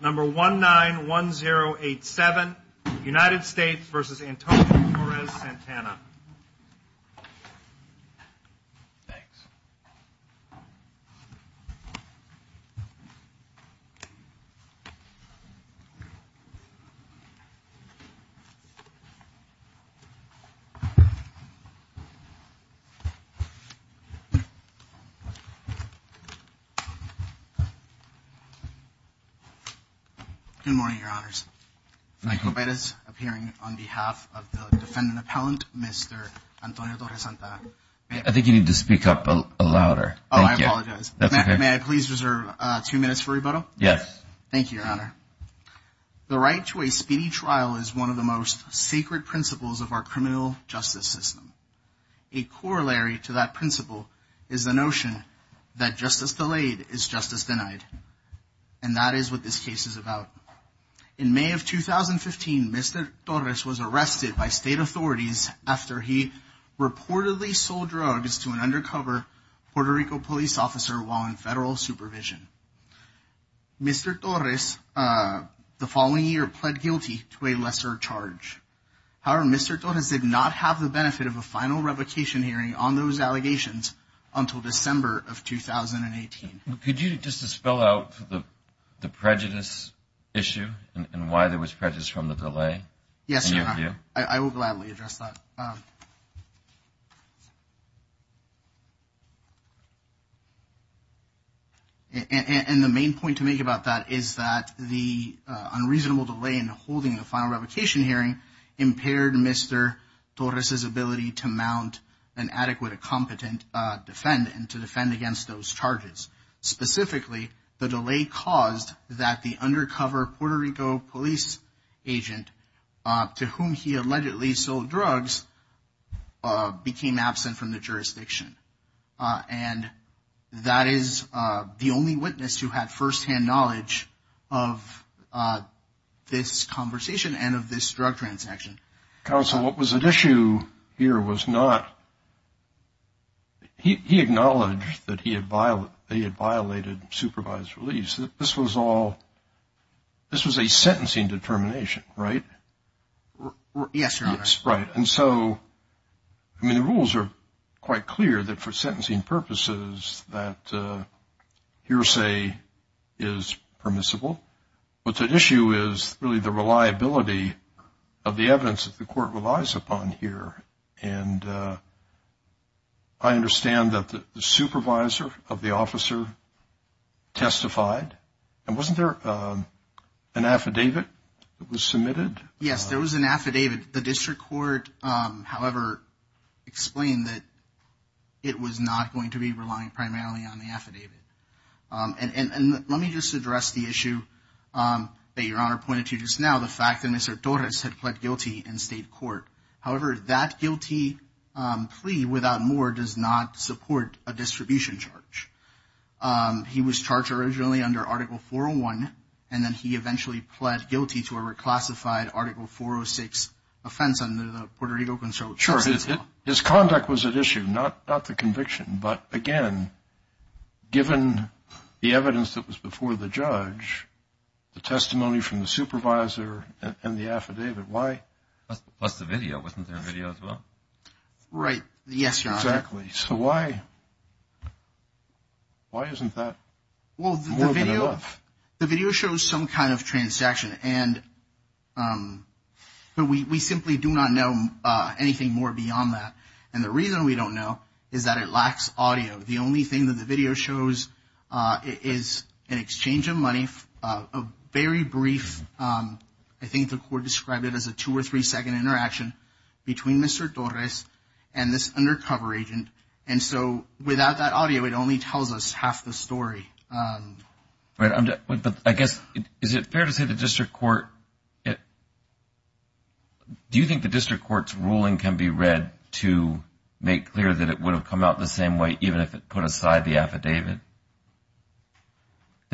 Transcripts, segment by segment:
Number 191087, United States v. Antonio Torres-Santana. Good morning, your honors. I invite us appearing on behalf of the defendant appellant, Mr. Antonio Torres-Santana. I think you need to speak up louder. Oh, I apologize. May I please reserve two minutes for rebuttal? Yes. Thank you, your honor. The right to a speedy trial is one of the most sacred principles of our criminal justice system. A corollary to that principle is the notion that justice delayed is justice denied. And that is what this case is about. In May of 2015, Mr. Torres was arrested by state authorities after he reportedly sold drugs to an undercover Puerto Rico police officer while in federal supervision. Mr. Torres, the following year, pled guilty to a lesser charge. However, Mr. Torres did not have the benefit of a final revocation hearing on those allegations until December of 2018. Could you just spell out the prejudice issue and why there was prejudice from the delay? Yes, your honor. I will gladly address that. And the main point to make about that is that the unreasonable delay in holding the final revocation hearing impaired Mr. Torres's ability to mount an adequate, competent defendant to defend against those charges. Specifically, the delay caused that the undercover Puerto Rico police agent to whom he allegedly sold drugs became absent from the jurisdiction. And that is the only witness who had firsthand knowledge of this conversation and of this drug transaction. Counsel, what was at issue here was not he acknowledged that he had violated supervised release. This was all this was a sentencing determination, right? Yes, your honor. Right. And so, I mean, the rules are quite clear that for sentencing purposes that hearsay is permissible. But the issue is really the reliability of the evidence that the court relies upon here. And I understand that the supervisor of the officer testified. And wasn't there an affidavit that was submitted? Yes, there was an affidavit. The district court, however, explained that it was not going to be relying primarily on the affidavit. And let me just address the issue that your honor pointed to just now, the fact that Mr. Torres had pled guilty in state court. However, that guilty plea without more does not support a distribution charge. He was charged originally under Article 401. And then he eventually pled guilty to a reclassified Article 406 offense under the Puerto Rico Constitution. Sure. His conduct was at issue, not the conviction. But, again, given the evidence that was before the judge, the testimony from the supervisor and the affidavit, why? Plus the video. Wasn't there a video as well? Right. Yes, your honor. Exactly. So why? Why isn't that more than enough? Well, the video shows some kind of transaction. And we simply do not know anything more beyond that. And the reason we don't know is that it lacks audio. The only thing that the video shows is an exchange of money, a very brief, I think the court described it as a two- or three-second interaction between Mr. Torres and this undercover agent. And so without that audio, it only tells us half the story. But I guess, is it fair to say the district court, do you think the district court's ruling can be read to make clear that it would have come out the same way even if it put aside the affidavit,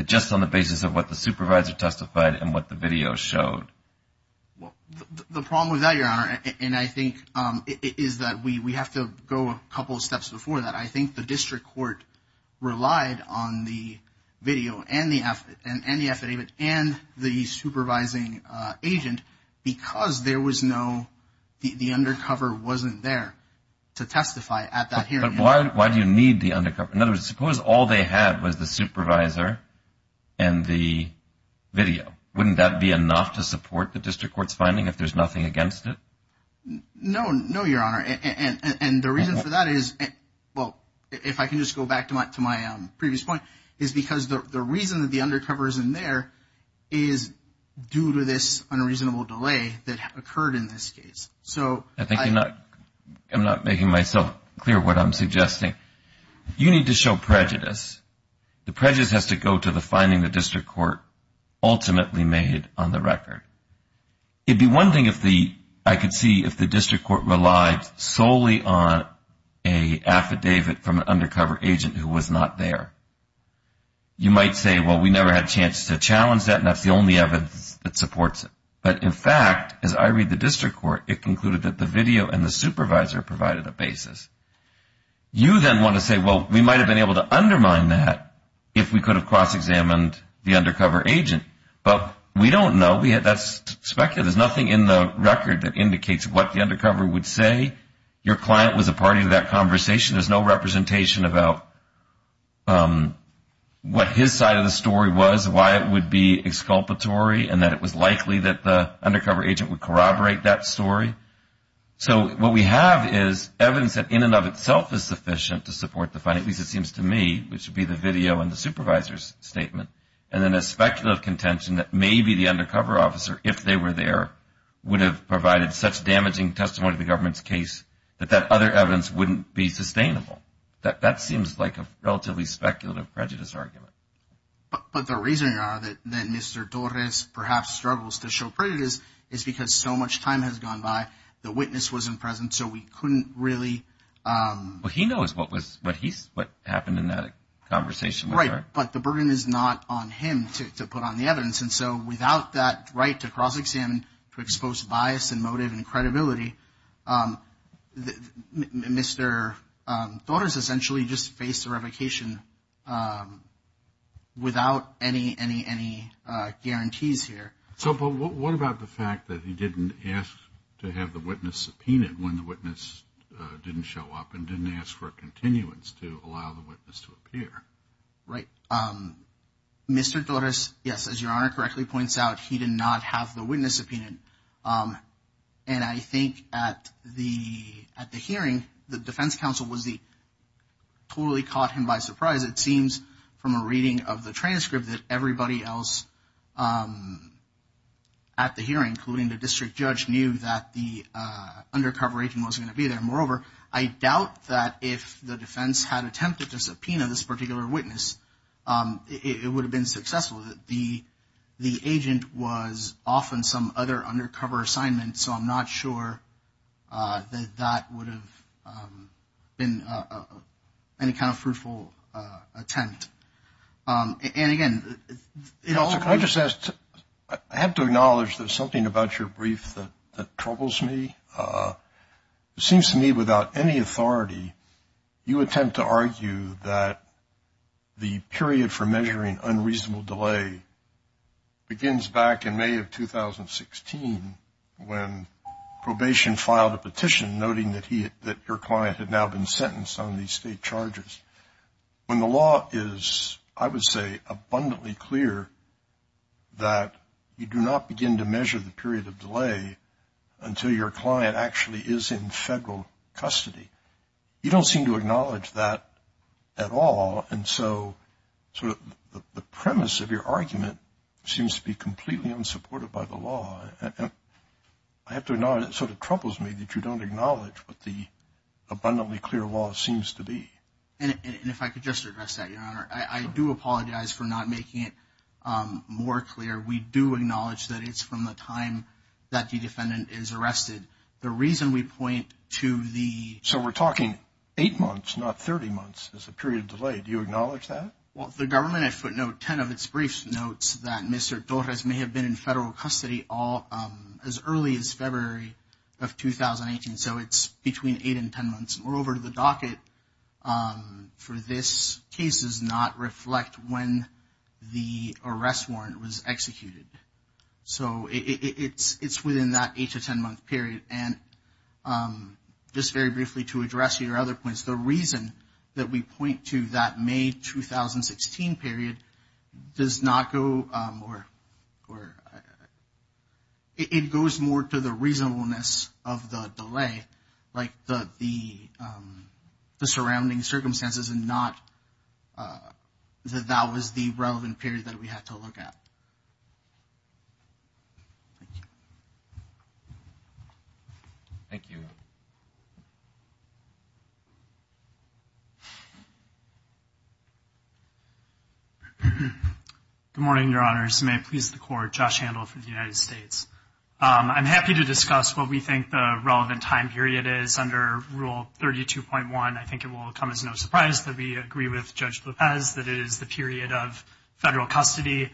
just on the basis of what the supervisor testified and what the video showed? Well, the problem with that, your honor, and I think is that we have to go a couple of steps before that. I think the district court relied on the video and the affidavit and the supervising agent because there was no, the undercover wasn't there to testify at that hearing. But why do you need the undercover? In other words, suppose all they had was the supervisor and the video. Wouldn't that be enough to support the district court's finding if there's nothing against it? No, no, your honor. And the reason for that is, well, if I can just go back to my previous point, is because the reason that the undercover isn't there is due to this unreasonable delay that occurred in this case. I think I'm not making myself clear what I'm suggesting. You need to show prejudice. The prejudice has to go to the finding the district court ultimately made on the record. It would be one thing if the, I could see if the district court relied solely on an affidavit from an undercover agent who was not there. You might say, well, we never had a chance to challenge that and that's the only evidence that supports it. But, in fact, as I read the district court, it concluded that the video and the supervisor provided a basis. You then want to say, well, we might have been able to undermine that if we could have cross-examined the undercover agent. But we don't know. That's speculative. There's nothing in the record that indicates what the undercover would say. Your client was a party to that conversation. There's no representation about what his side of the story was, why it would be exculpatory, and that it was likely that the undercover agent would corroborate that story. So what we have is evidence that in and of itself is sufficient to support the finding, at least it seems to me, which would be the video and the supervisor's statement. And then a speculative contention that maybe the undercover officer, if they were there, would have provided such damaging testimony to the government's case that that other evidence wouldn't be sustainable. That seems like a relatively speculative prejudice argument. But the reasoning are that Mr. Torres perhaps struggles to show prejudice is because so much time has gone by, the witness wasn't present, so we couldn't really. Well, he knows what happened in that conversation. Right. But the burden is not on him to put on the evidence. And so without that right to cross-examine, to expose bias and motive and credibility, Mr. Torres essentially just faced a revocation without any guarantees here. So what about the fact that he didn't ask to have the witness subpoenaed when the witness didn't show up and didn't ask for a continuance to allow the witness to appear? Right. Mr. Torres, yes, as Your Honor correctly points out, he did not have the witness subpoenaed. And I think at the hearing, the defense counsel totally caught him by surprise. It seems from a reading of the transcript that everybody else at the hearing, including the district judge, knew that the undercover agent wasn't going to be there. Moreover, I doubt that if the defense had attempted to subpoena this particular witness, it would have been successful. The agent was off on some other undercover assignment, so I'm not sure that that would have been any kind of fruitful attempt. And, again, it also could have been. Can I just ask, I have to acknowledge there's something about your brief that troubles me. It seems to me without any authority, you attempt to argue that the period for measuring unreasonable delay begins back in May of 2016 when probation filed a petition noting that your client had now been sentenced on these state charges. When the law is, I would say, abundantly clear that you do not begin to measure the period of delay until your client actually is in federal custody. You don't seem to acknowledge that at all, and so the premise of your argument seems to be completely unsupported by the law. I have to acknowledge that it sort of troubles me that you don't acknowledge what the abundantly clear law seems to be. And if I could just address that, Your Honor, I do apologize for not making it more clear. We do acknowledge that it's from the time that the defendant is arrested. The reason we point to the- So we're talking eight months, not 30 months, is the period of delay. Do you acknowledge that? Well, the government, I footnote, 10 of its briefs notes that Mr. Torres may have been in federal custody as early as February of 2018, so it's between eight and 10 months. Moreover, the docket for this case does not reflect when the arrest warrant was executed. So it's within that eight to 10-month period. And just very briefly to address your other points, the reason that we point to that May 2016 period does not go- It goes more to the reasonableness of the delay, like the surrounding circumstances, and not that that was the relevant period that we had to look at. Thank you. Thank you. Good morning, Your Honors. May it please the Court, Josh Handel for the United States. I'm happy to discuss what we think the relevant time period is under Rule 32.1. I think it will come as no surprise that we agree with Judge Lopez that it is the period of federal custody.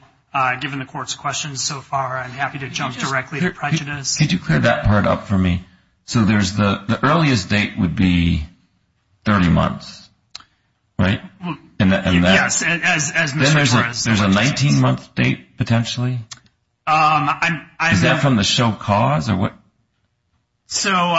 Given the Court's questions so far, I'm happy to jump directly to prejudice. Could you clear that part up for me? So the earliest date would be 30 months, right? Yes, as Mr. Torres- Then there's a 19-month date potentially? Is that from the show cause or what? So,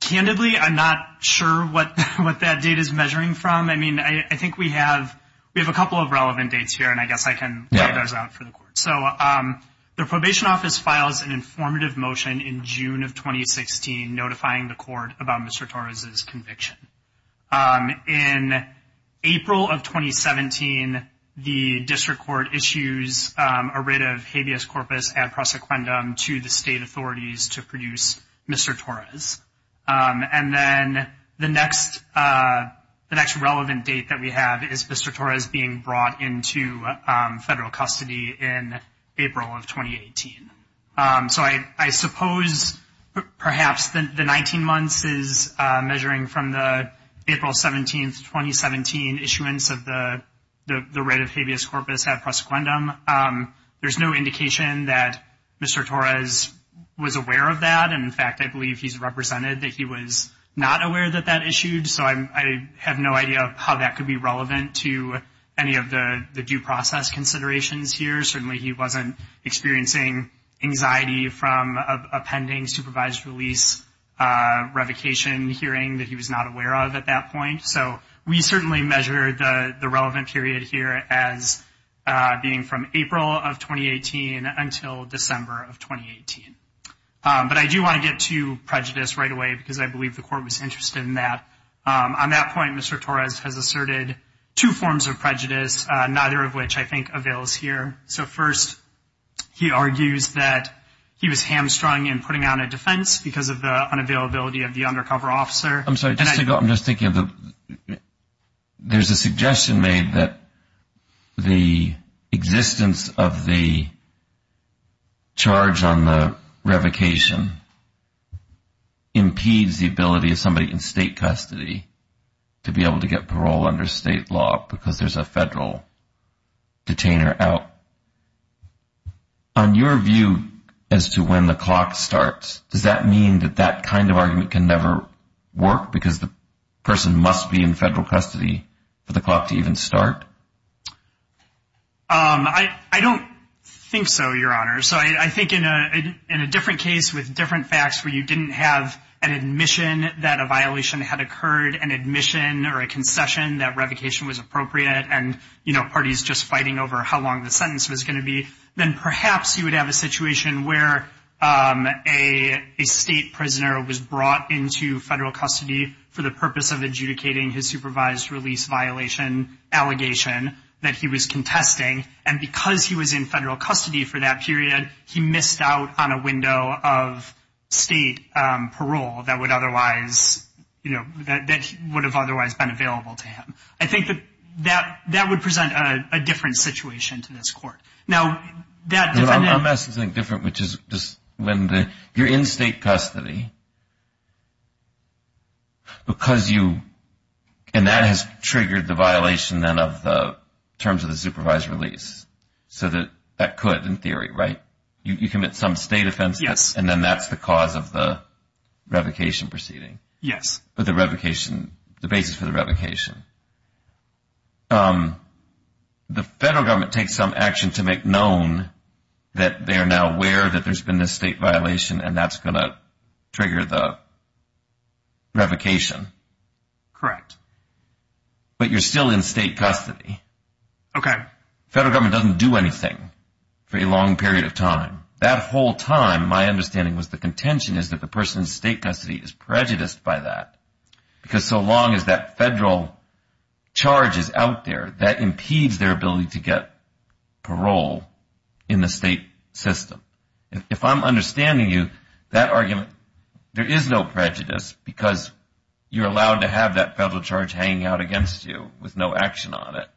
candidly, I'm not sure what that date is measuring from. I mean, I think we have a couple of relevant dates here, and I guess I can point those out for the Court. So the Probation Office files an informative motion in June of 2016, notifying the Court about Mr. Torres' conviction. In April of 2017, the District Court issues a writ of habeas corpus ad prosequendum to the state authorities to produce Mr. Torres. And then the next relevant date that we have is Mr. Torres being brought into federal custody in April of 2018. So I suppose perhaps the 19 months is measuring from the April 17, 2017 issuance of the writ of habeas corpus ad prosequendum. There's no indication that Mr. Torres was aware of that. And, in fact, I believe he's represented that he was not aware that that issued. So I have no idea how that could be relevant to any of the due process considerations here. Certainly he wasn't experiencing anxiety from a pending supervised release revocation hearing that he was not aware of at that point. So we certainly measure the relevant period here as being from April of 2018 until December of 2018. But I do want to get to prejudice right away because I believe the Court was interested in that. On that point, Mr. Torres has asserted two forms of prejudice, neither of which I think avails here. So, first, he argues that he was hamstrung in putting on a defense because of the unavailability of the undercover officer. I'm sorry, just to go, I'm just thinking of the, there's a suggestion made that the existence of the charge on the revocation impedes the ability of somebody in state custody to be able to get parole under state law because there's a federal detainer out. On your view as to when the clock starts, does that mean that that kind of argument can never work because the person must be in federal custody for the clock to even start? I don't think so, Your Honor. So I think in a different case with different facts where you didn't have an admission that a violation had occurred, an admission or a concession that revocation was appropriate, and, you know, parties just fighting over how long the sentence was going to be, then perhaps you would have a situation where a state prisoner was brought into federal custody for the purpose of adjudicating his supervised release violation allegation that he was contesting, and because he was in federal custody for that period, he missed out on a window of state parole that would otherwise, you know, that would have otherwise been available to him. I think that that would present a different situation to this court. Now, that defendant... I'm asking something different, which is just when you're in state custody because you, and that has triggered the violation then of the terms of the supervised release, so that that could, in theory, right? You commit some state offense, and then that's the cause of the revocation proceeding. Yes. The basis for the revocation. The federal government takes some action to make known that they are now aware that there's been a state violation, and that's going to trigger the revocation. Correct. But you're still in state custody. Okay. That whole time my understanding was the contention is that the person in state custody is prejudiced by that because so long as that federal charge is out there, that impedes their ability to get parole in the state system. If I'm understanding you, that argument, there is no prejudice because you're allowed to have that federal charge hanging out against you with no action on it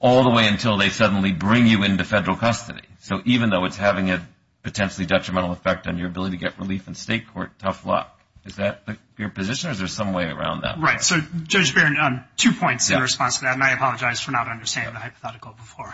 all the way until they suddenly bring you into federal custody. So even though it's having a potentially detrimental effect on your ability to get relief in state court, tough luck. Is that your position, or is there some way around that? Right. So, Judge Barron, two points in response to that, and I apologize for not understanding the hypothetical before.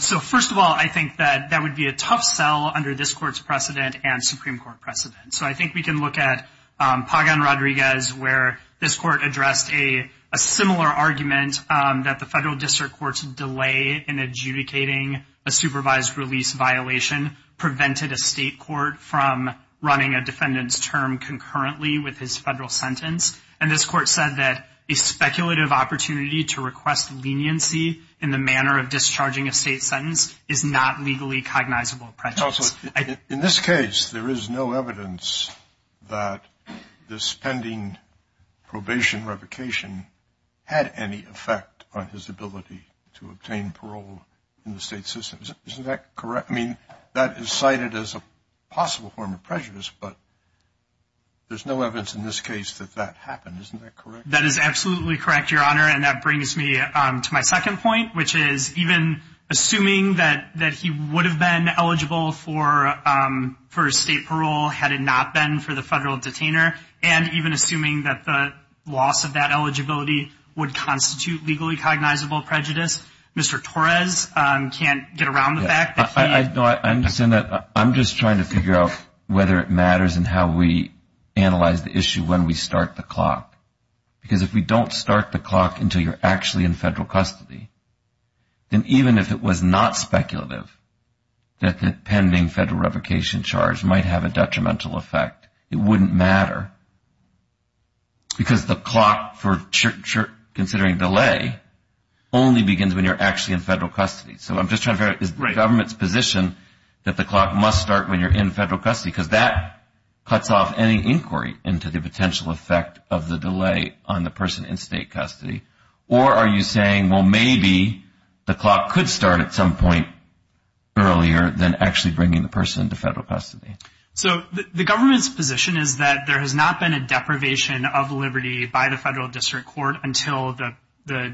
So, first of all, I think that that would be a tough sell under this Court's precedent and Supreme Court precedent. So I think we can look at Pagan-Rodriguez where this Court addressed a similar argument that the federal district courts delay in adjudicating a supervised release violation prevented a state court from running a defendant's term concurrently with his federal sentence. And this Court said that a speculative opportunity to request leniency in the manner of discharging a state sentence is not legally cognizable prejudice. Counsel, in this case, there is no evidence that this pending probation revocation had any effect on his ability to obtain parole in the state system. Isn't that correct? I mean, that is cited as a possible form of prejudice, but there's no evidence in this case that that happened. Isn't that correct? That is absolutely correct, Your Honor, and that brings me to my second point, which is even assuming that he would have been eligible for state parole had it not been for the federal detainer, and even assuming that the loss of that eligibility would constitute legally cognizable prejudice, Mr. Torres can't get around the fact that he had- No, I understand that. I'm just trying to figure out whether it matters in how we analyze the issue when we start the clock. Because if we don't start the clock until you're actually in federal custody, then even if it was not speculative that the pending federal revocation charge might have a detrimental effect, it wouldn't matter. Because the clock, considering delay, only begins when you're actually in federal custody. So I'm just trying to figure out, is the government's position that the clock must start when you're in federal custody? Because that cuts off any inquiry into the potential effect of the delay on the person in state custody. Or are you saying, well, maybe the clock could start at some point earlier than actually bringing the person to federal custody? So the government's position is that there has not been a deprivation of liberty by the federal district court until the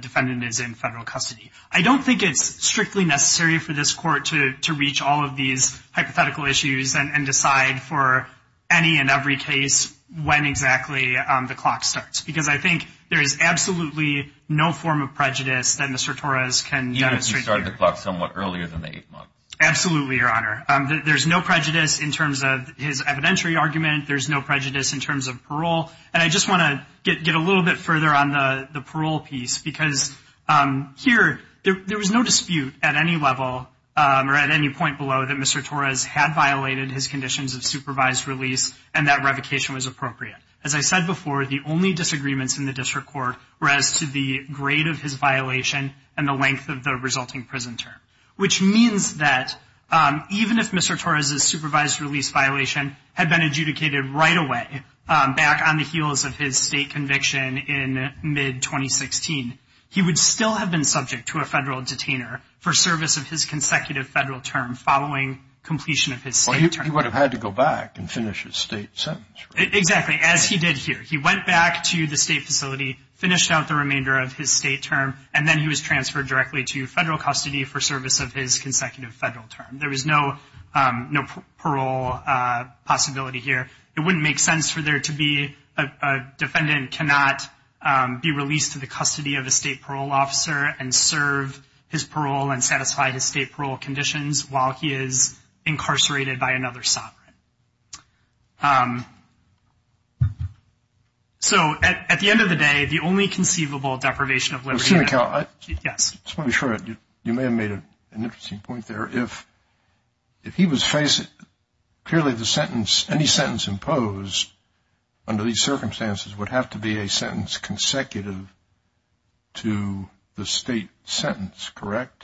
defendant is in federal custody. I don't think it's strictly necessary for this court to reach all of these hypothetical issues and decide for any and every case when exactly the clock starts. Because I think there is absolutely no form of prejudice that Mr. Torres can demonstrate. Even if you started the clock somewhat earlier than the eighth month? Absolutely, Your Honor. There's no prejudice in terms of his evidentiary argument. There's no prejudice in terms of parole. And I just want to get a little bit further on the parole piece, because here there was no dispute at any level, or at any point below, that Mr. Torres had violated his conditions of supervised release and that revocation was appropriate. As I said before, the only disagreements in the district court were as to the grade of his violation and the length of the resulting prison term. Which means that even if Mr. Torres' supervised release violation had been adjudicated right away, back on the heels of his state conviction in mid-2016, he would still have been subject to a federal detainer for service of his consecutive federal term following completion of his state term. Well, he would have had to go back and finish his state sentence, right? Exactly, as he did here. He went back to the state facility, finished out the remainder of his state term, and then he was transferred directly to federal custody for service of his consecutive federal term. There was no parole possibility here. It wouldn't make sense for there to be a defendant cannot be released to the custody of a state parole officer and serve his parole and satisfy his state parole conditions while he is incarcerated by another sovereign. So, at the end of the day, the only conceivable deprivation of liberty. Mr. McHale. Yes. Just want to be sure, you may have made an interesting point there. If he was facing clearly the sentence, any sentence imposed under these circumstances would have to be a sentence consecutive to the state sentence, correct?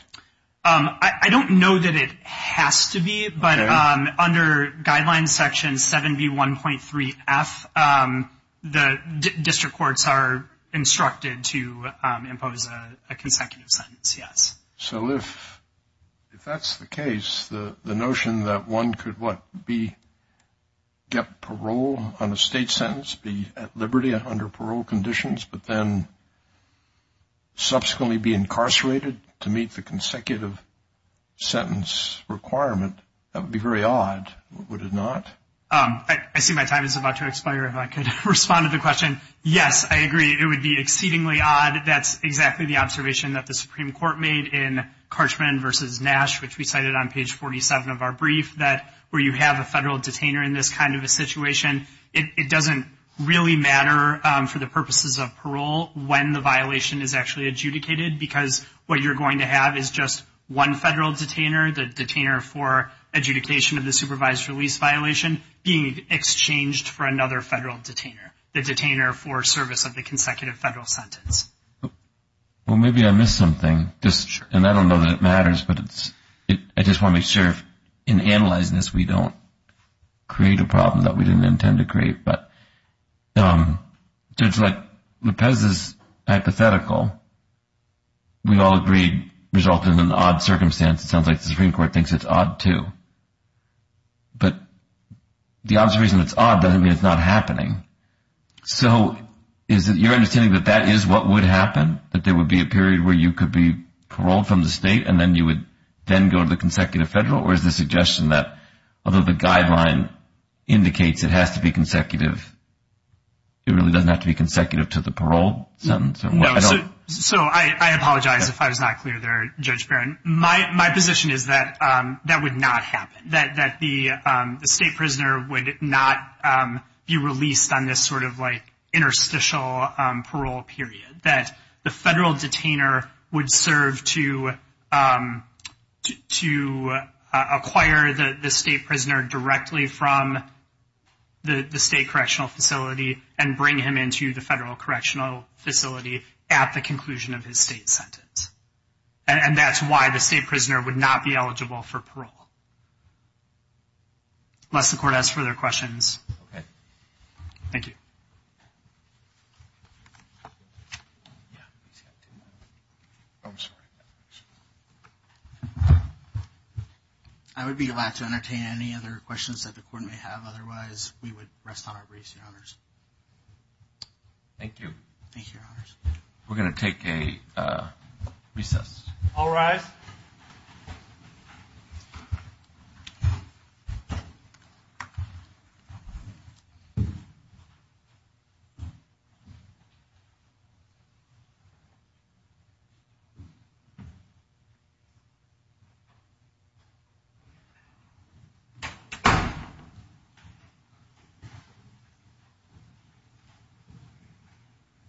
I don't know that it has to be, but under Guidelines Section 7B1.3F, the district courts are instructed to impose a consecutive sentence, yes. So, if that's the case, the notion that one could, what, get parole on a state sentence, be at liberty under parole conditions, but then subsequently be incarcerated to meet the consecutive sentence requirement, that would be very odd, would it not? I see my time is about to expire. If I could respond to the question, yes, I agree, it would be exceedingly odd. That's exactly the observation that the Supreme Court made in Carchman v. Nash, which we cited on page 47 of our brief, that where you have a federal detainer in this kind of a situation, it doesn't really matter for the purposes of parole when the violation is actually adjudicated, because what you're going to have is just one federal detainer, the detainer for adjudication of the supervised release violation, being exchanged for another federal detainer, the detainer for service of the consecutive federal sentence. Well, maybe I missed something, and I don't know that it matters, but I just want to make sure, in analyzing this, we don't create a problem that we didn't intend to create. But, Judge Lepez's hypothetical, we all agreed, resulted in an odd circumstance. It sounds like the Supreme Court thinks it's odd, too. But the obvious reason it's odd doesn't mean it's not happening. So is it your understanding that that is what would happen, that there would be a period where you could be paroled from the state and then you would then go to the consecutive federal? Or is the suggestion that, although the guideline indicates it has to be consecutive, it really doesn't have to be consecutive to the parole sentence? So I apologize if I was not clear there, Judge Barron. My position is that that would not happen, that the state prisoner would not be released on this sort of, like, interstitial parole period, that the federal detainer would serve to acquire the state prisoner directly from the state correctional facility and bring him into the federal correctional facility at the conclusion of his state sentence. And that's why the state prisoner would not be eligible for parole. Unless the Court has further questions. Okay. Thank you. I would be glad to entertain any other questions that the Court may have. Otherwise, we would rest on our briefs, Your Honors. Thank you. Thank you, Your Honors. We're going to take a recess. All rise.